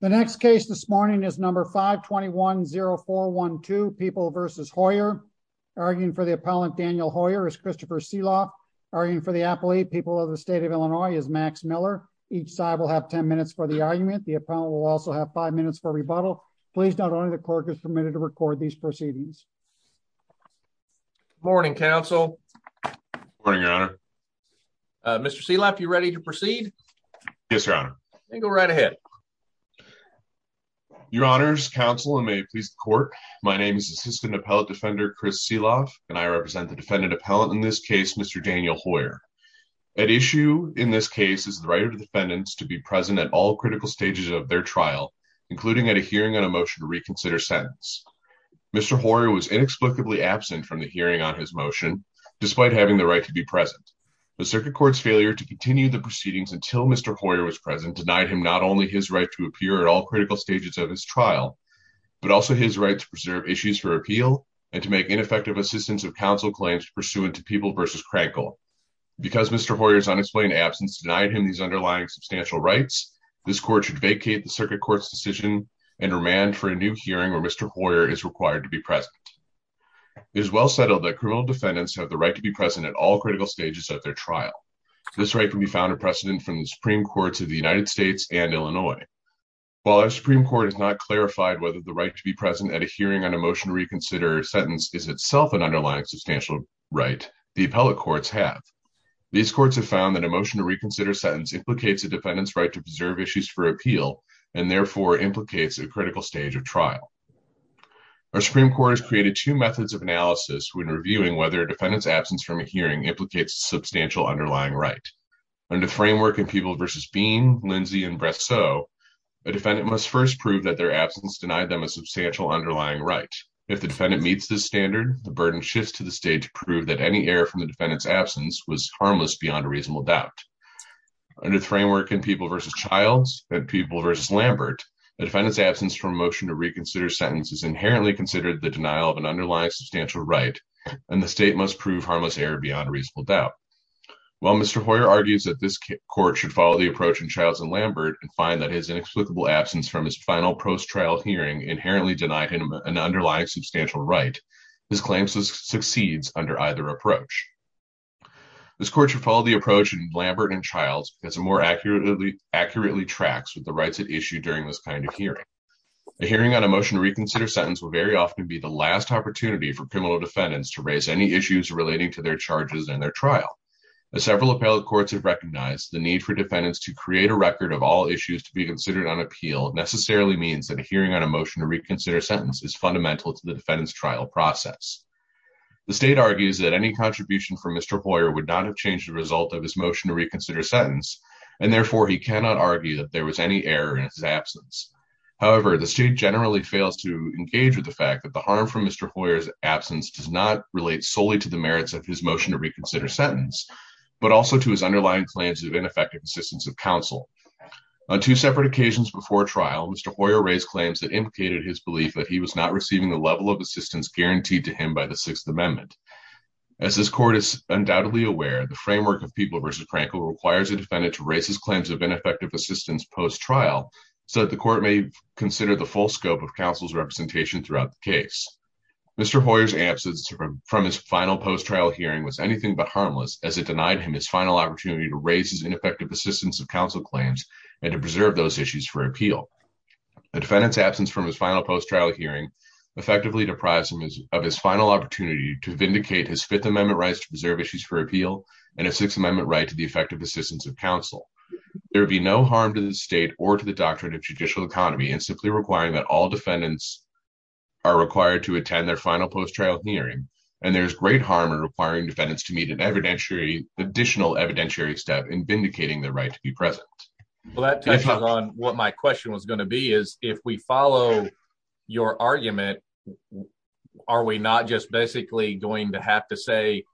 The next case this morning is number 521-0412, People v. Hoyer. Arguing for the appellant, Daniel Hoyer, is Christopher Seeloff. Arguing for the appellate, People of the State of Illinois, is Max Miller. Each side will have 10 minutes for the argument. The appellant will also have five minutes for rebuttal. Please note only the clerk is permitted to record these proceedings. Morning, counsel. Morning, your honor. Mr. Seeloff, you ready to proceed? Yes, your honor. Then go right ahead. Your honors, counsel, and may it please the court, my name is Assistant Appellate Defender Chris Seeloff, and I represent the defendant appellant in this case, Mr. Daniel Hoyer. At issue in this case is the right of the defendants to be present at all critical stages of their trial, including at a hearing on a motion to reconsider sentence. Mr. Hoyer was inexplicably absent from the hearing on his motion, despite having the right to be present. The circuit court's failure to continue the proceedings until Mr. Hoyer was present denied him not only his right to appear at all critical stages of his trial, but also his right to preserve issues for appeal and to make ineffective assistance of counsel claims pursuant to People v. Krankel. Because Mr. Hoyer's unexplained absence denied him these underlying substantial rights, this court should vacate the circuit court's decision and remand for a new hearing where Mr. Hoyer is required to be present. It is well settled that criminal defendants have the right to be present at all critical stages of their trial. This right can be found in precedent from the Supreme Courts of the United States and Illinois. While our Supreme Court has not clarified whether the right to be present at a hearing on a motion to reconsider sentence is itself an underlying substantial right, the appellate courts have. These courts have found that a motion to reconsider sentence implicates a defendant's right to preserve issues for appeal, and therefore implicates a critical stage of trial. Our Supreme Court has created two methods of analysis when underlying right. Under framework in People v. Bean, Lindsay, and Bresseau, a defendant must first prove that their absence denied them a substantial underlying right. If the defendant meets this standard, the burden shifts to the state to prove that any error from the defendant's absence was harmless beyond a reasonable doubt. Under framework in People v. Childs and People v. Lambert, the defendant's absence from a motion to reconsider sentence is inherently considered the denial of an underlying substantial right, and the state must prove harmless error beyond reasonable doubt. While Mr. Hoyer argues that this court should follow the approach in Childs and Lambert and find that his inexplicable absence from his final post-trial hearing inherently denied him an underlying substantial right, his claim succeeds under either approach. This court should follow the approach in Lambert and Childs because it more accurately tracks with the rights at issue during this kind of hearing. A hearing on a motion to reconsider sentence will very often be the last opportunity for criminal defendants to raise any issues relating to their charges and their trial. As several appellate courts have recognized, the need for defendants to create a record of all issues to be considered on appeal necessarily means that a hearing on a motion to reconsider sentence is fundamental to the defendant's trial process. The state argues that any contribution from Mr. Hoyer would not have changed the result of his motion to reconsider sentence, and therefore he cannot argue that there was any error in his absence. However, the state generally fails to engage with the fact that the harm from Mr. Hoyer's absence does not solely relate to the merits of his motion to reconsider sentence, but also to his underlying claims of ineffective assistance of counsel. On two separate occasions before trial, Mr. Hoyer raised claims that implicated his belief that he was not receiving the level of assistance guaranteed to him by the Sixth Amendment. As this court is undoubtedly aware, the framework of People v. Crankle requires a defendant to raise his claims of ineffective assistance post-trial so that the court may consider the full scope of counsel's representation throughout the case. Mr. Hoyer's absence from his final post-trial hearing was anything but harmless, as it denied him his final opportunity to raise his ineffective assistance of counsel claims and to preserve those issues for appeal. The defendant's absence from his final post-trial hearing effectively deprives him of his final opportunity to vindicate his Fifth Amendment rights to preserve issues for appeal and a Sixth Amendment right to the effective assistance of counsel. There would be no harm to the state or to the doctrine of judicial economy in simply requiring that all defendants are required to attend their final post-trial hearing, and there is great harm in requiring defendants to meet an evidentiary additional evidentiary step in vindicating their right to be present. Well that touches on what my question was going to be is if we follow your argument, are we not just basically going to have to say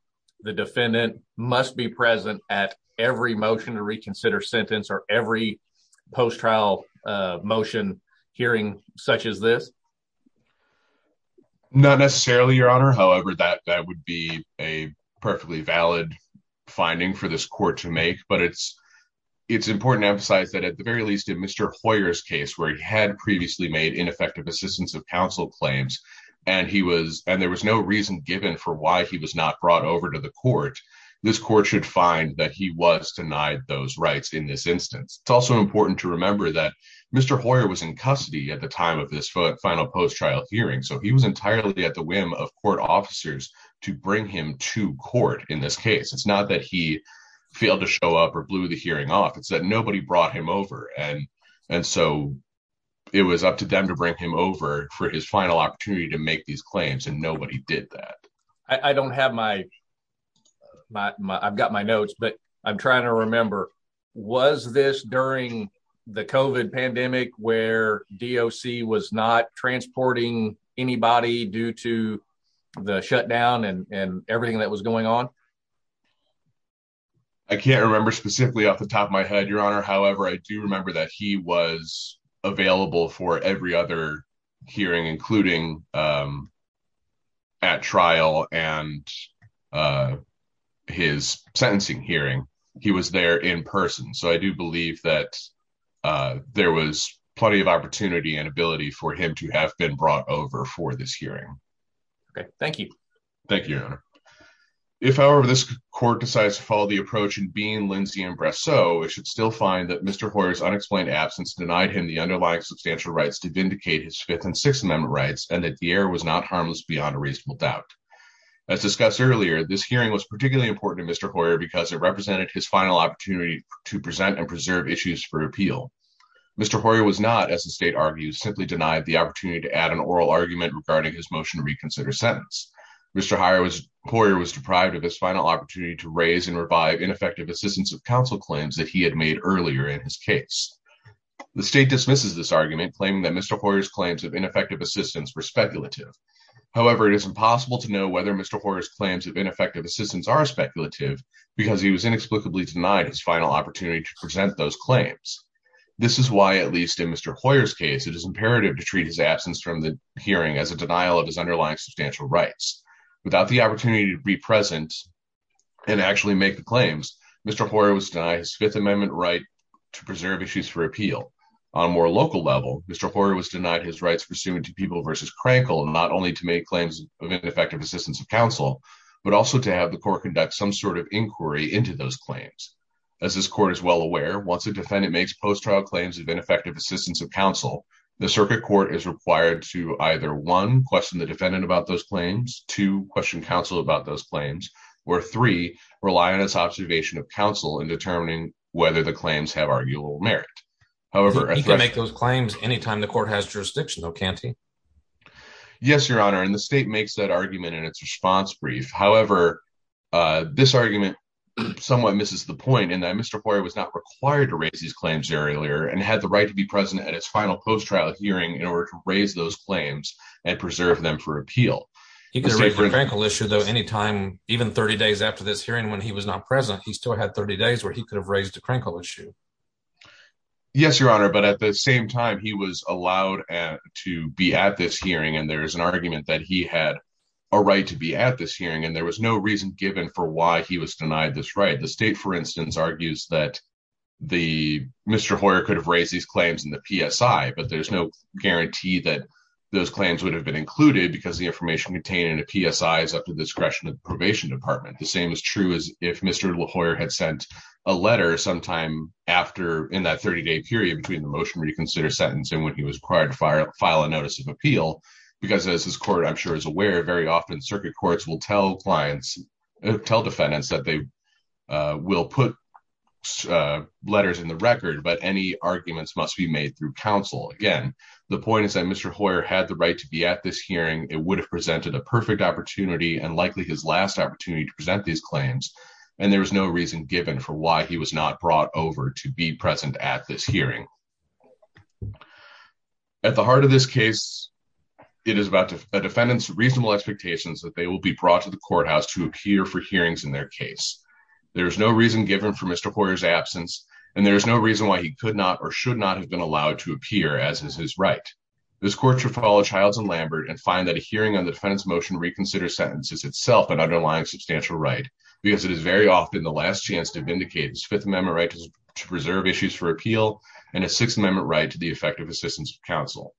the defendant must be present at every motion to reconsider sentence or every post-trial motion hearing such as this? Not necessarily your honor, however that that would be a perfectly valid finding for this court to make, but it's it's important to emphasize that at the very least in Mr. Hoyer's case where he had previously made ineffective assistance of counsel claims and he was and there was no reason given for why he was not brought over to the court, this court should find that he was denied those rights in this instance. It's also important to remember that Mr. Hoyer was in custody at the time of this final post-trial hearing, so he was entirely at the whim of court officers to bring him to court in this case. It's not that he failed to show up or blew the hearing off, it's that nobody brought him over and and so it was up to them to bring him over for his final opportunity to make these claims and nobody did that. I don't have my, I've got my notes, but I'm trying to remember was this during the COVID pandemic where DOC was not transporting anybody due to the shutdown and and everything that was going on? I can't remember specifically off the top of my head your honor, however I do remember that he was available for every other hearing including um at trial and uh his sentencing hearing. He was there in person so I do believe that uh there was plenty of opportunity and ability for him to have been brought over for this hearing. Okay, thank you. Thank you your honor. If however this court decides to follow the approach in being Lindsay and Brasso, it should still find that Mr. Hoyer's unexplained absence denied him the underlying substantial rights to vindicate his Fifth and Sixth Amendment rights and that the error was not harmless beyond a reasonable doubt. As discussed earlier, this hearing was particularly important to Mr. Hoyer because it represented his final opportunity to present and preserve issues for appeal. Mr. Hoyer was not, as the state argues, simply denied the opportunity to add an oral argument regarding his motion to reconsider sentence. Mr. Hoyer was deprived of his final opportunity to earlier in his case. The state dismisses this argument claiming that Mr. Hoyer's claims of ineffective assistance were speculative. However, it is impossible to know whether Mr. Hoyer's claims of ineffective assistance are speculative because he was inexplicably denied his final opportunity to present those claims. This is why, at least in Mr. Hoyer's case, it is imperative to treat his absence from the hearing as a denial of his underlying substantial rights. Without the to preserve issues for appeal. On a more local level, Mr. Hoyer was denied his rights pursuant to People v. Crankle not only to make claims of ineffective assistance of counsel, but also to have the court conduct some sort of inquiry into those claims. As this court is well aware, once a defendant makes post-trial claims of ineffective assistance of counsel, the circuit court is required to either one, question the defendant about those claims, two, question counsel about those claims, or three, rely on his observation of counsel in determining whether the claims have arguable merit. However, he can make those claims anytime the court has jurisdiction, though, can't he? Yes, Your Honor, and the state makes that argument in its response brief. However, this argument somewhat misses the point in that Mr. Hoyer was not required to raise these claims earlier and had the right to be present at its final post-trial hearing in order to raise those even 30 days after this hearing when he was not present. He still had 30 days where he could have raised a Crankle issue. Yes, Your Honor, but at the same time he was allowed to be at this hearing and there is an argument that he had a right to be at this hearing and there was no reason given for why he was denied this right. The state, for instance, argues that Mr. Hoyer could have raised these claims in the PSI, but there's no guarantee that those claims would have been included because the information contained in a PSI is up to the discretion of the probation department. The same is true as if Mr. Hoyer had sent a letter sometime after in that 30-day period between the motion reconsider sentence and when he was required to file a notice of appeal, because as this court, I'm sure, is aware, very often circuit courts will tell clients, tell defendants that they will put letters in the record, but any arguments must be made through counsel. Again, the point is that Mr. Hoyer had the right to be at this hearing. It would have presented a perfect opportunity and likely his last opportunity to present these claims and there was no reason given for why he was not brought over to be present at this hearing. At the heart of this case, it is about a defendant's reasonable expectations that they will be brought to the courthouse to appear for hearings in their case. There is no reason given for Mr. Hoyer's absence and there is no reason why he could not or should not have been allowed to appear, as is his right. This court should follow Childs and Lambert and find that a hearing on the defendant's motion reconsider sentence is itself an underlying substantial right, because it is very often the last chance to vindicate his Fifth Amendment right to preserve issues for appeal and a Sixth Amendment right to the effective assistance of counsel.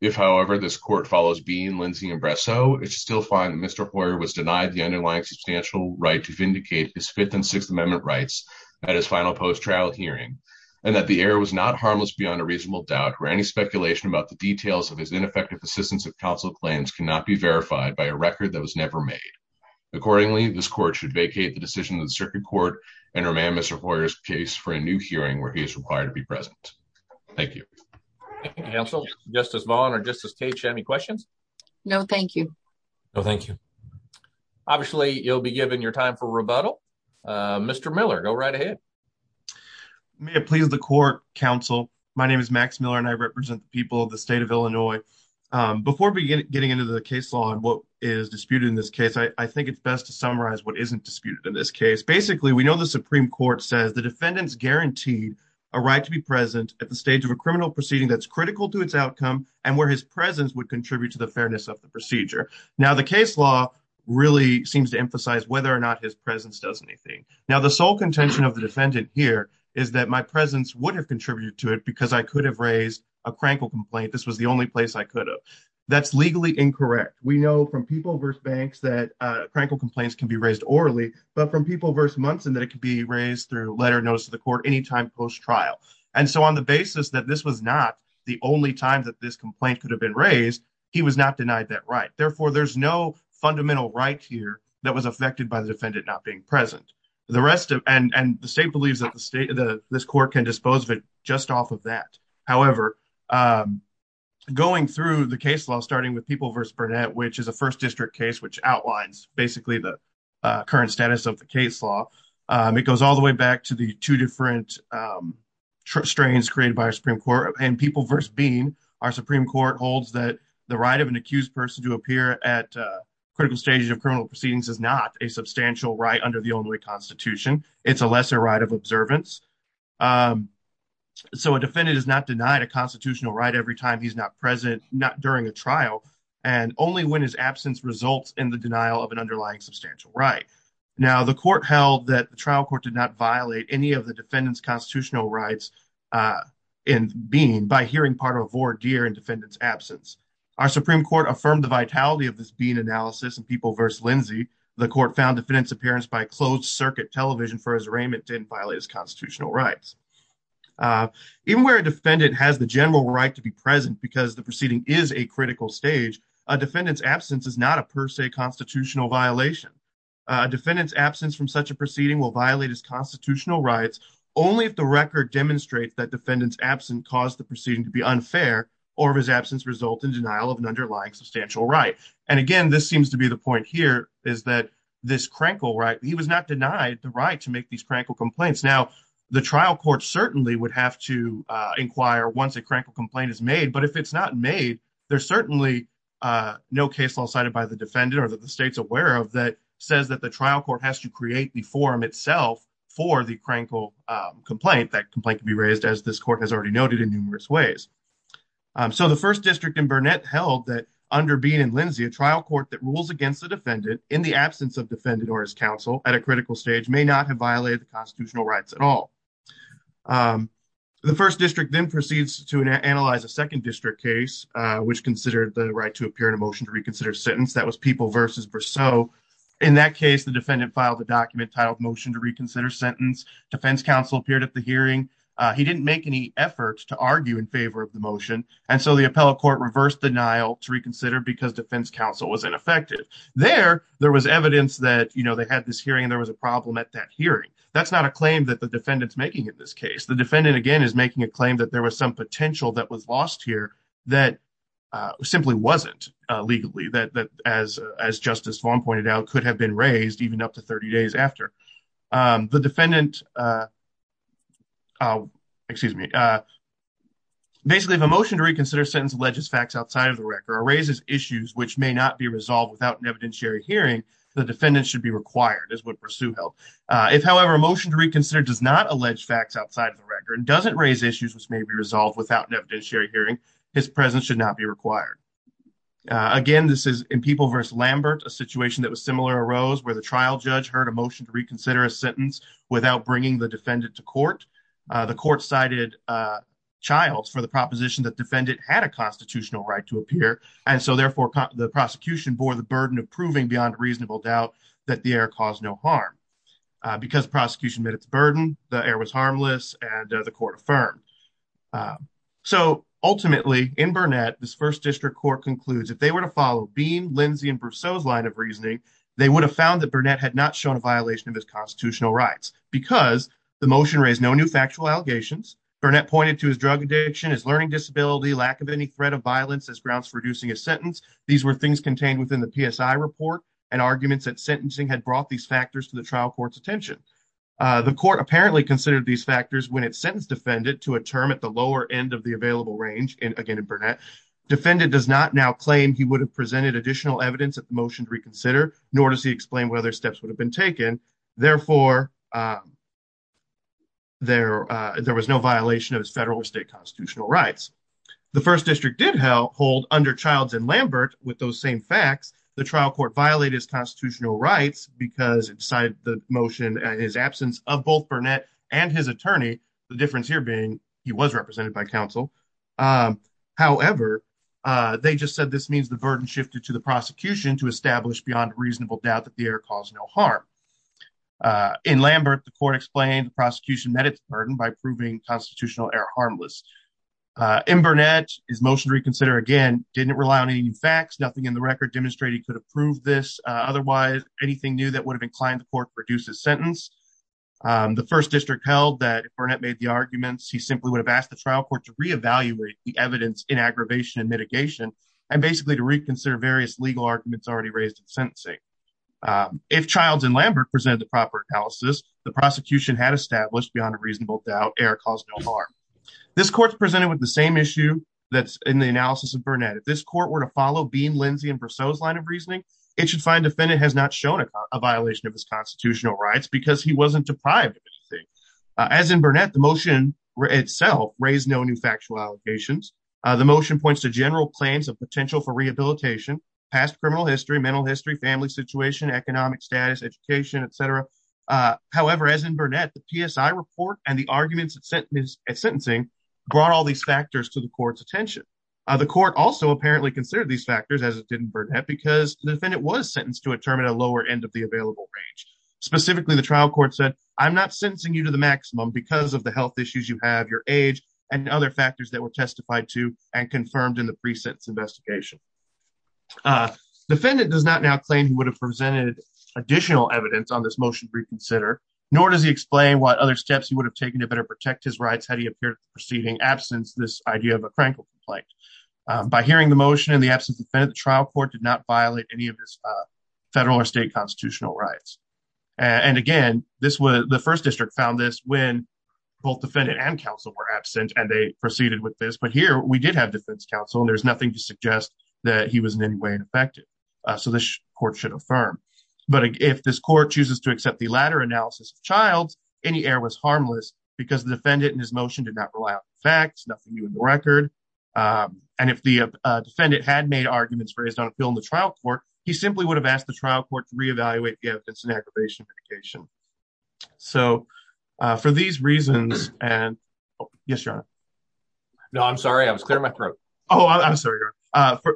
If, however, this court follows Bean, Lindsey, and Bresow, it should still find that Mr. Hoyer was denied the underlying substantial right to vindicate his Fifth and Sixth Amendment rights at his final post-trial hearing and that the error was not harmless beyond a reasonable doubt, where any speculation about the details of his ineffective assistance of counsel claims cannot be verified by a record that was never made. Accordingly, this court should vacate the decision of the circuit court and remand Mr. Hoyer's case for a new hearing where he is required to be present. Thank you. Thank you, counsel. Justice Vaughn or Justice Tate, do you have any questions? No, thank you. No, thank you. Obviously, you'll be given your time rebuttal. Mr. Miller, go right ahead. May it please the court, counsel. My name is Max Miller and I represent the people of the state of Illinois. Before getting into the case law and what is disputed in this case, I think it's best to summarize what isn't disputed in this case. Basically, we know the Supreme Court says the defendant's guaranteed a right to be present at the stage of a criminal proceeding that's critical to its outcome and where his presence would contribute to the fairness of the procedure. Now, the case law really seems to emphasize whether or not his presence does anything. Now, the sole contention of the defendant here is that my presence would have contributed to it because I could have raised a Crankle complaint. This was the only place I could have. That's legally incorrect. We know from People v. Banks that Crankle complaints can be raised orally, but from People v. Munson that it could be raised through letter notice to the court any time post-trial. And so on the basis that this was not the only time that this complaint could have been raised, he was not denied that right. Therefore, there's no not being present. And the state believes that this court can dispose of it just off of that. However, going through the case law starting with People v. Burnett, which is a first district case which outlines basically the current status of the case law, it goes all the way back to the two different strains created by our Supreme Court. And People v. Bean, our Supreme Court holds that the right of an accused person to appear at critical stages of criminal proceedings is not a substantial right under the only constitution. It's a lesser right of observance. So a defendant is not denied a constitutional right every time he's not present, not during a trial, and only when his absence results in the denial of an underlying substantial right. Now, the court held that the trial court did not violate any of the defendant's constitutional rights in Bean by hearing part of a voir dire in defendant's absence. Our Supreme Court affirmed the vitality of this Bean analysis in People v. Lindsay. The court found defendant's appearance by closed circuit television for his arraignment didn't violate his constitutional rights. Even where a defendant has the general right to be present because the proceeding is a critical stage, a defendant's absence is not a per se constitutional violation. A defendant's absence from such a proceeding will violate his constitutional rights only if the record demonstrates that defendant's absence caused the proceeding to be unfair or if his absence result in denial of an underlying substantial right. And again, this seems to be the point here is that this Krenkel right, he was not denied the right to make these Krenkel complaints. Now, the trial court certainly would have to inquire once a Krenkel complaint is made, but if it's not made, there's certainly no case law cited by the defendant or that the state's aware of that says that the trial court has to create the forum itself for the Krenkel complaint. That complaint can be raised as this held that under Beane and Lindsay, a trial court that rules against the defendant in the absence of defendant or his counsel at a critical stage may not have violated the constitutional rights at all. The first district then proceeds to analyze a second district case, which considered the right to appear in a motion to reconsider sentence. That was People v. Berceau. In that case, the defendant filed a document titled Motion to Reconsider Sentence. Defense counsel appeared at the hearing. He didn't make any efforts to argue in favor of the motion, and so the appellate court reversed denial to reconsider because defense counsel was ineffective. There, there was evidence that, you know, they had this hearing and there was a problem at that hearing. That's not a claim that the defendant's making in this case. The defendant, again, is making a claim that there was some potential that was lost here that simply wasn't legally, that as Justice Vaughn pointed out, even up to 30 days after. The defendant, excuse me, basically, if a motion to reconsider sentence alleges facts outside of the record or raises issues which may not be resolved without an evidentiary hearing, the defendant should be required, is what Berceau held. If, however, a motion to reconsider does not allege facts outside of the record and doesn't raise issues which may be resolved without an evidentiary hearing, his presence should not be required. Again, this is in People v. Lambert, a situation that was similar arose where the trial judge heard a motion to reconsider a sentence without bringing the defendant to court. The court cited Childs for the proposition that defendant had a constitutional right to appear, and so therefore the prosecution bore the burden of proving beyond reasonable doubt that the error caused no harm. Because prosecution met its burden, the error was harmless, and the court affirmed. So, ultimately, in Burnett, this First District Court concludes if they were to follow Beam, Lindsey, and Berceau's line of reasoning, they would have found that Burnett had not shown a violation of his constitutional rights because the motion raised no new factual allegations. Burnett pointed to his drug addiction, his learning disability, lack of any threat of violence as grounds for reducing his sentence. These were things contained within the PSI report and arguments that sentencing had brought these factors to trial court's attention. The court apparently considered these factors when it sentenced defendant to a term at the lower end of the available range, again in Burnett. Defendant does not now claim he would have presented additional evidence at the motion to reconsider, nor does he explain what other steps would have been taken. Therefore, there was no violation of his federal or state constitutional rights. The First District did hold, under Childs and Lambert, with those same facts, the trial court violated his constitutional rights because it decided the motion in his absence of both Burnett and his attorney, the difference here being he was represented by counsel. However, they just said this means the burden shifted to the prosecution to establish beyond reasonable doubt that the error caused no harm. In Lambert, the court explained the prosecution met its burden by proving constitutional error harmless. In Burnett, his motion to approve this, otherwise anything new that would have inclined the court to reduce his sentence. The First District held that if Burnett made the arguments, he simply would have asked the trial court to reevaluate the evidence in aggravation and mitigation, and basically to reconsider various legal arguments already raised in sentencing. If Childs and Lambert presented the proper analysis, the prosecution had established beyond a reasonable doubt error caused no harm. This court presented with the same issue that's in the analysis of Burnett. If this court were to follow Bean, Lindsey, and Brosseau's line of reasoning, it should find defendant has not shown a violation of his constitutional rights because he wasn't deprived of anything. As in Burnett, the motion itself raised no new factual allegations. The motion points to general claims of potential for rehabilitation, past criminal history, mental history, family situation, economic status, education, etc. However, as in Burnett, the PSI report and the arguments at sentencing brought all these factors to the court's attention. The court also apparently considered these factors, as it did in Burnett, because the defendant was sentenced to a term at a lower end of the available range. Specifically, the trial court said, I'm not sentencing you to the maximum because of the health issues you have, your age, and other factors that were testified to and confirmed in the pre-sentence investigation. Defendant does not now claim he would have presented additional evidence on this motion reconsider, nor does he explain what other steps he would have taken to better protect his rights had he appeared in the preceding absence, this idea of a Franklin complaint. By hearing the motion in the absence of the defendant, the trial court did not violate any of his federal or state constitutional rights. And again, the first district found this when both defendant and counsel were absent and they proceeded with this, but here we did have defense counsel and there's nothing to suggest that he was in any way affected. So this court should affirm. But if this court chooses to accept the latter analysis of Childs, any error was harmless because the defendant in motion did not rely on facts, nothing new in the record. And if the defendant had made arguments for his own appeal in the trial court, he simply would have asked the trial court to re-evaluate the evidence in the aggravation application. So for these reasons, and yes, your honor. No, I'm sorry. I was clearing my throat. Oh, I'm sorry.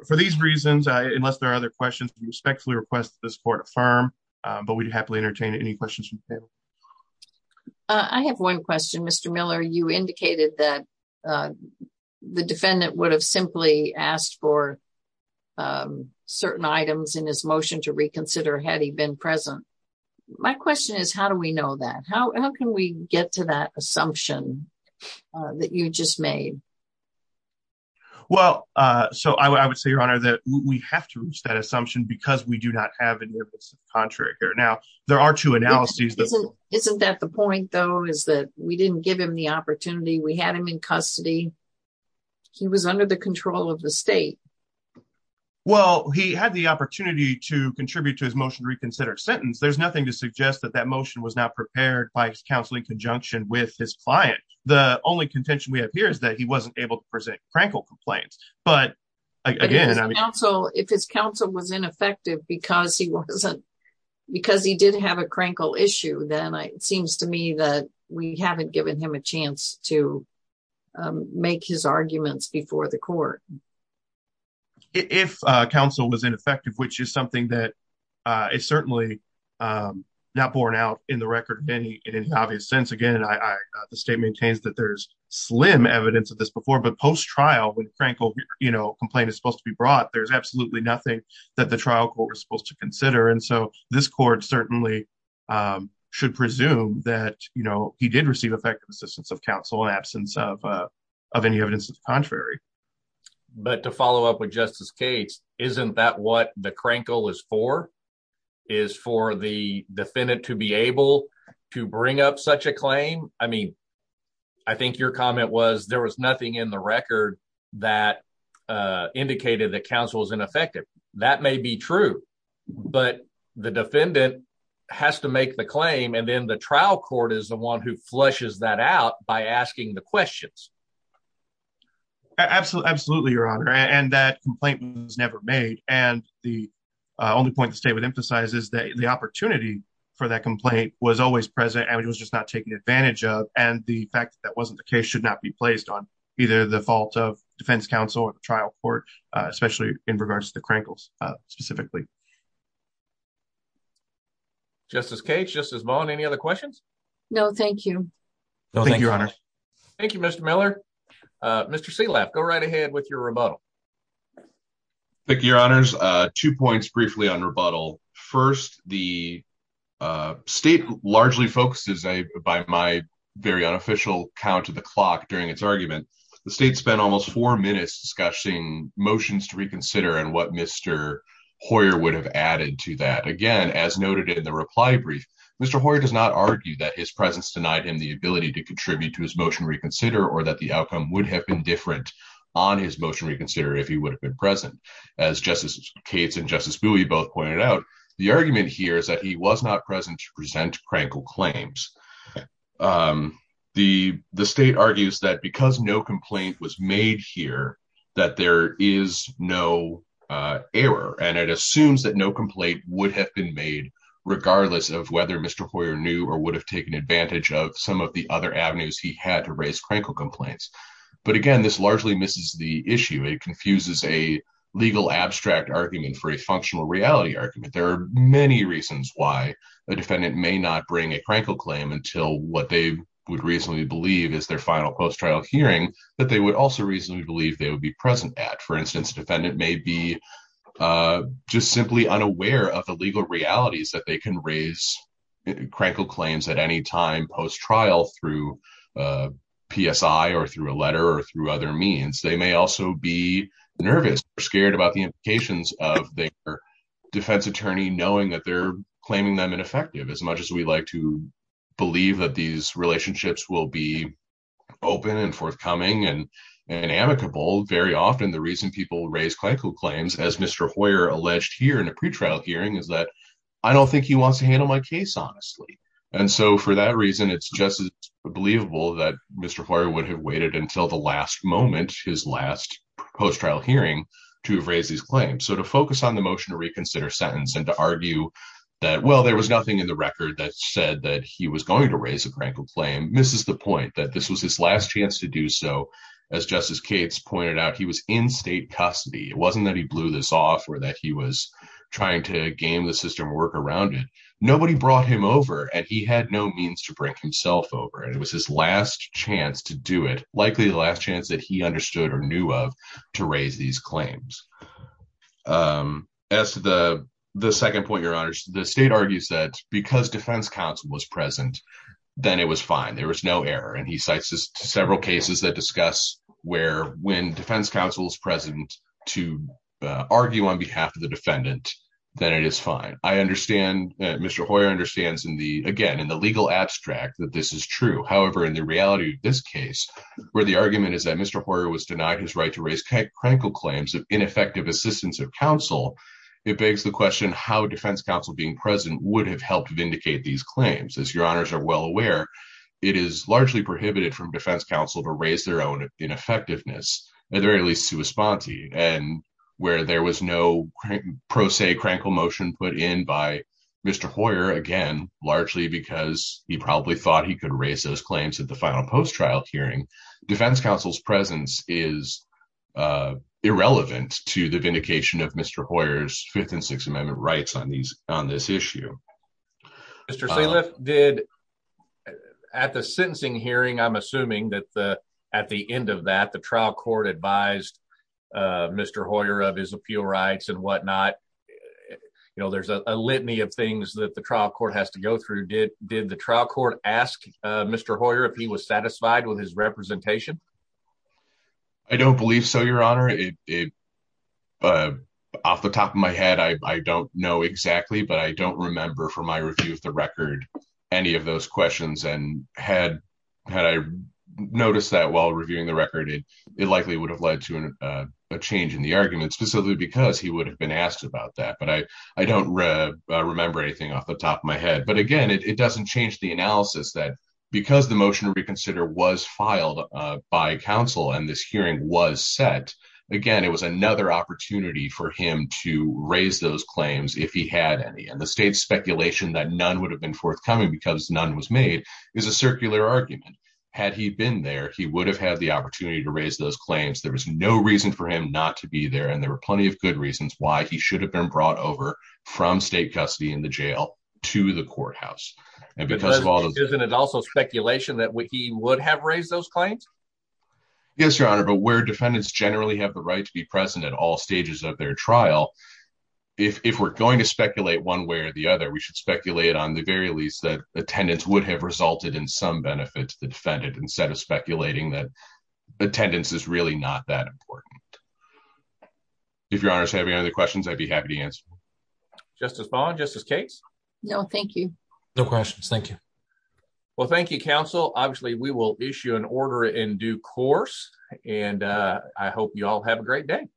For these reasons, unless there are other questions, we respectfully request that this court affirm, but we'd happily entertain any questions from the panel. I have one question, Mr. Miller. You indicated that the defendant would have simply asked for certain items in his motion to reconsider had he been present. My question is, how do we know that? How can we get to that assumption that you just made? Well, so I would say, your honor, that we have to reach that assumption because we do not have any evidence of contrary here. Now there are two analyses. Isn't that the point though, is that we didn't give him the opportunity. We had him in custody. He was under the control of the state. Well, he had the opportunity to contribute to his motion reconsidered sentence. There's nothing to suggest that that motion was not prepared by his counseling conjunction with his client. The only contention we have here is that he wasn't able to present crankle complaints. But again, if his counsel was ineffective because he did have a crankle issue, then it seems to me that we haven't given him a chance to make his arguments before the court. If counsel was ineffective, which is something that is certainly not borne out in the record in any obvious sense. Again, the state maintains that there's slim evidence of this but post-trial when crankle complaint is supposed to be brought, there's absolutely nothing that the trial court was supposed to consider. And so this court certainly should presume that he did receive effective assistance of counsel in absence of any evidence of contrary. But to follow up with Justice Cates, isn't that what the crankle is for? Is for the defendant to be able to bring up such a record that indicated that counsel is ineffective. That may be true, but the defendant has to make the claim and then the trial court is the one who flushes that out by asking the questions. Absolutely, your honor. And that complaint was never made. And the only point the state would emphasize is that the opportunity for that complaint was always present and it was just not taken advantage of. And the fact that that wasn't the case should not be placed on either the fault of defense counsel or the trial court, especially in regards to the crankles specifically. Justice Cates, Justice Vaughn, any other questions? No, thank you. No, thank you, your honor. Thank you, Mr. Miller. Mr. Selaff, go right ahead with your rebuttal. Thank you, your honors. Two points by my very unofficial count of the clock during its argument. The state spent almost four minutes discussing motions to reconsider and what Mr. Hoyer would have added to that. Again, as noted in the reply brief, Mr. Hoyer does not argue that his presence denied him the ability to contribute to his motion reconsider or that the outcome would have been different on his motion reconsider if he would have been present. As Justice Cates and Justice Bowie both pointed out, the argument here is that he was not present to present crankle claims. The state argues that because no complaint was made here that there is no error and it assumes that no complaint would have been made regardless of whether Mr. Hoyer knew or would have taken advantage of some of the other avenues he had to raise crankle complaints. But again, this largely misses the issue. It confuses a functional reality argument. There are many reasons why a defendant may not bring a crankle claim until what they would reasonably believe is their final post-trial hearing that they would also reasonably believe they would be present at. For instance, a defendant may be just simply unaware of the legal realities that they can raise crankle claims at any time post-trial through PSI or through a letter or through other means. They may also be nervous or scared about the defense attorney knowing that they're claiming them ineffective. As much as we'd like to believe that these relationships will be open and forthcoming and amicable, very often the reason people raise crankle claims, as Mr. Hoyer alleged here in a pretrial hearing, is that I don't think he wants to handle my case honestly. And so for that reason, it's just as believable that Mr. Hoyer would have waited until the last moment, his last post-trial hearing, to have raised these motion to reconsider sentence and to argue that, well, there was nothing in the record that said that he was going to raise a crankle claim. This is the point that this was his last chance to do so. As Justice Cates pointed out, he was in state custody. It wasn't that he blew this off or that he was trying to game the system work around it. Nobody brought him over and he had no means to bring himself over. And it was his last chance to do it, likely the last chance that he understood or knew of, to raise these claims. As to the second point, Your Honor, the state argues that because defense counsel was present, then it was fine. There was no error. And he cites several cases that discuss where when defense counsel is present to argue on behalf of the defendant, then it is fine. I understand, Mr. Hoyer understands in the, again, in the legal abstract that this is crankle claims of ineffective assistance of counsel. It begs the question how defense counsel being present would have helped vindicate these claims. As Your Honors are well aware, it is largely prohibited from defense counsel to raise their own ineffectiveness, at the very least to a sponte, and where there was no pro se crankle motion put in by Mr. Hoyer, again, largely because he probably thought he could raise those claims at the final post trial hearing, defense counsel's presence is irrelevant to the vindication of Mr. Hoyer's Fifth and Sixth Amendment rights on these on this issue. Mr. Sayliff did at the sentencing hearing, I'm assuming that the at the end of that the trial court advised Mr. Hoyer of his appeal rights and whatnot. You know, there's a litany of things that the trial court has to go through did did the trial court ask Mr. Hoyer if he was satisfied with his representation? I don't believe so, Your Honor, it off the top of my head, I don't know exactly, but I don't remember from my review of the record, any of those questions and had had I noticed that while reviewing the record, it likely would have led to a change in the argument specifically because he would have been asked about that. But I, I don't remember anything off the top of my head. But again, it doesn't change the analysis that because the motion to reconsider was filed by counsel, and this hearing was set, again, it was another opportunity for him to raise those claims if he had any and the state speculation that none would have been forthcoming because none was made is a circular argument. Had he been there, he would have had the opportunity to raise those claims. There was no reason for him not to be there. And there were plenty of good reasons why he should have been brought over from state custody in the jail to the courthouse. Isn't it also speculation that he would have raised those claims? Yes, Your Honor, but where defendants generally have the right to be present at all stages of their trial, if we're going to speculate one way or the other, we should speculate on the very least that attendance would have resulted in some benefit to the defendant instead of speculating that attendance is really not that important. If Your Honor is having any other questions, I'd be happy to answer. Justice Bond, Justice Cates? No, thank you. No questions. Thank you. Well, thank you, counsel. Obviously, we will issue an order in due course. And I hope you all have a great day.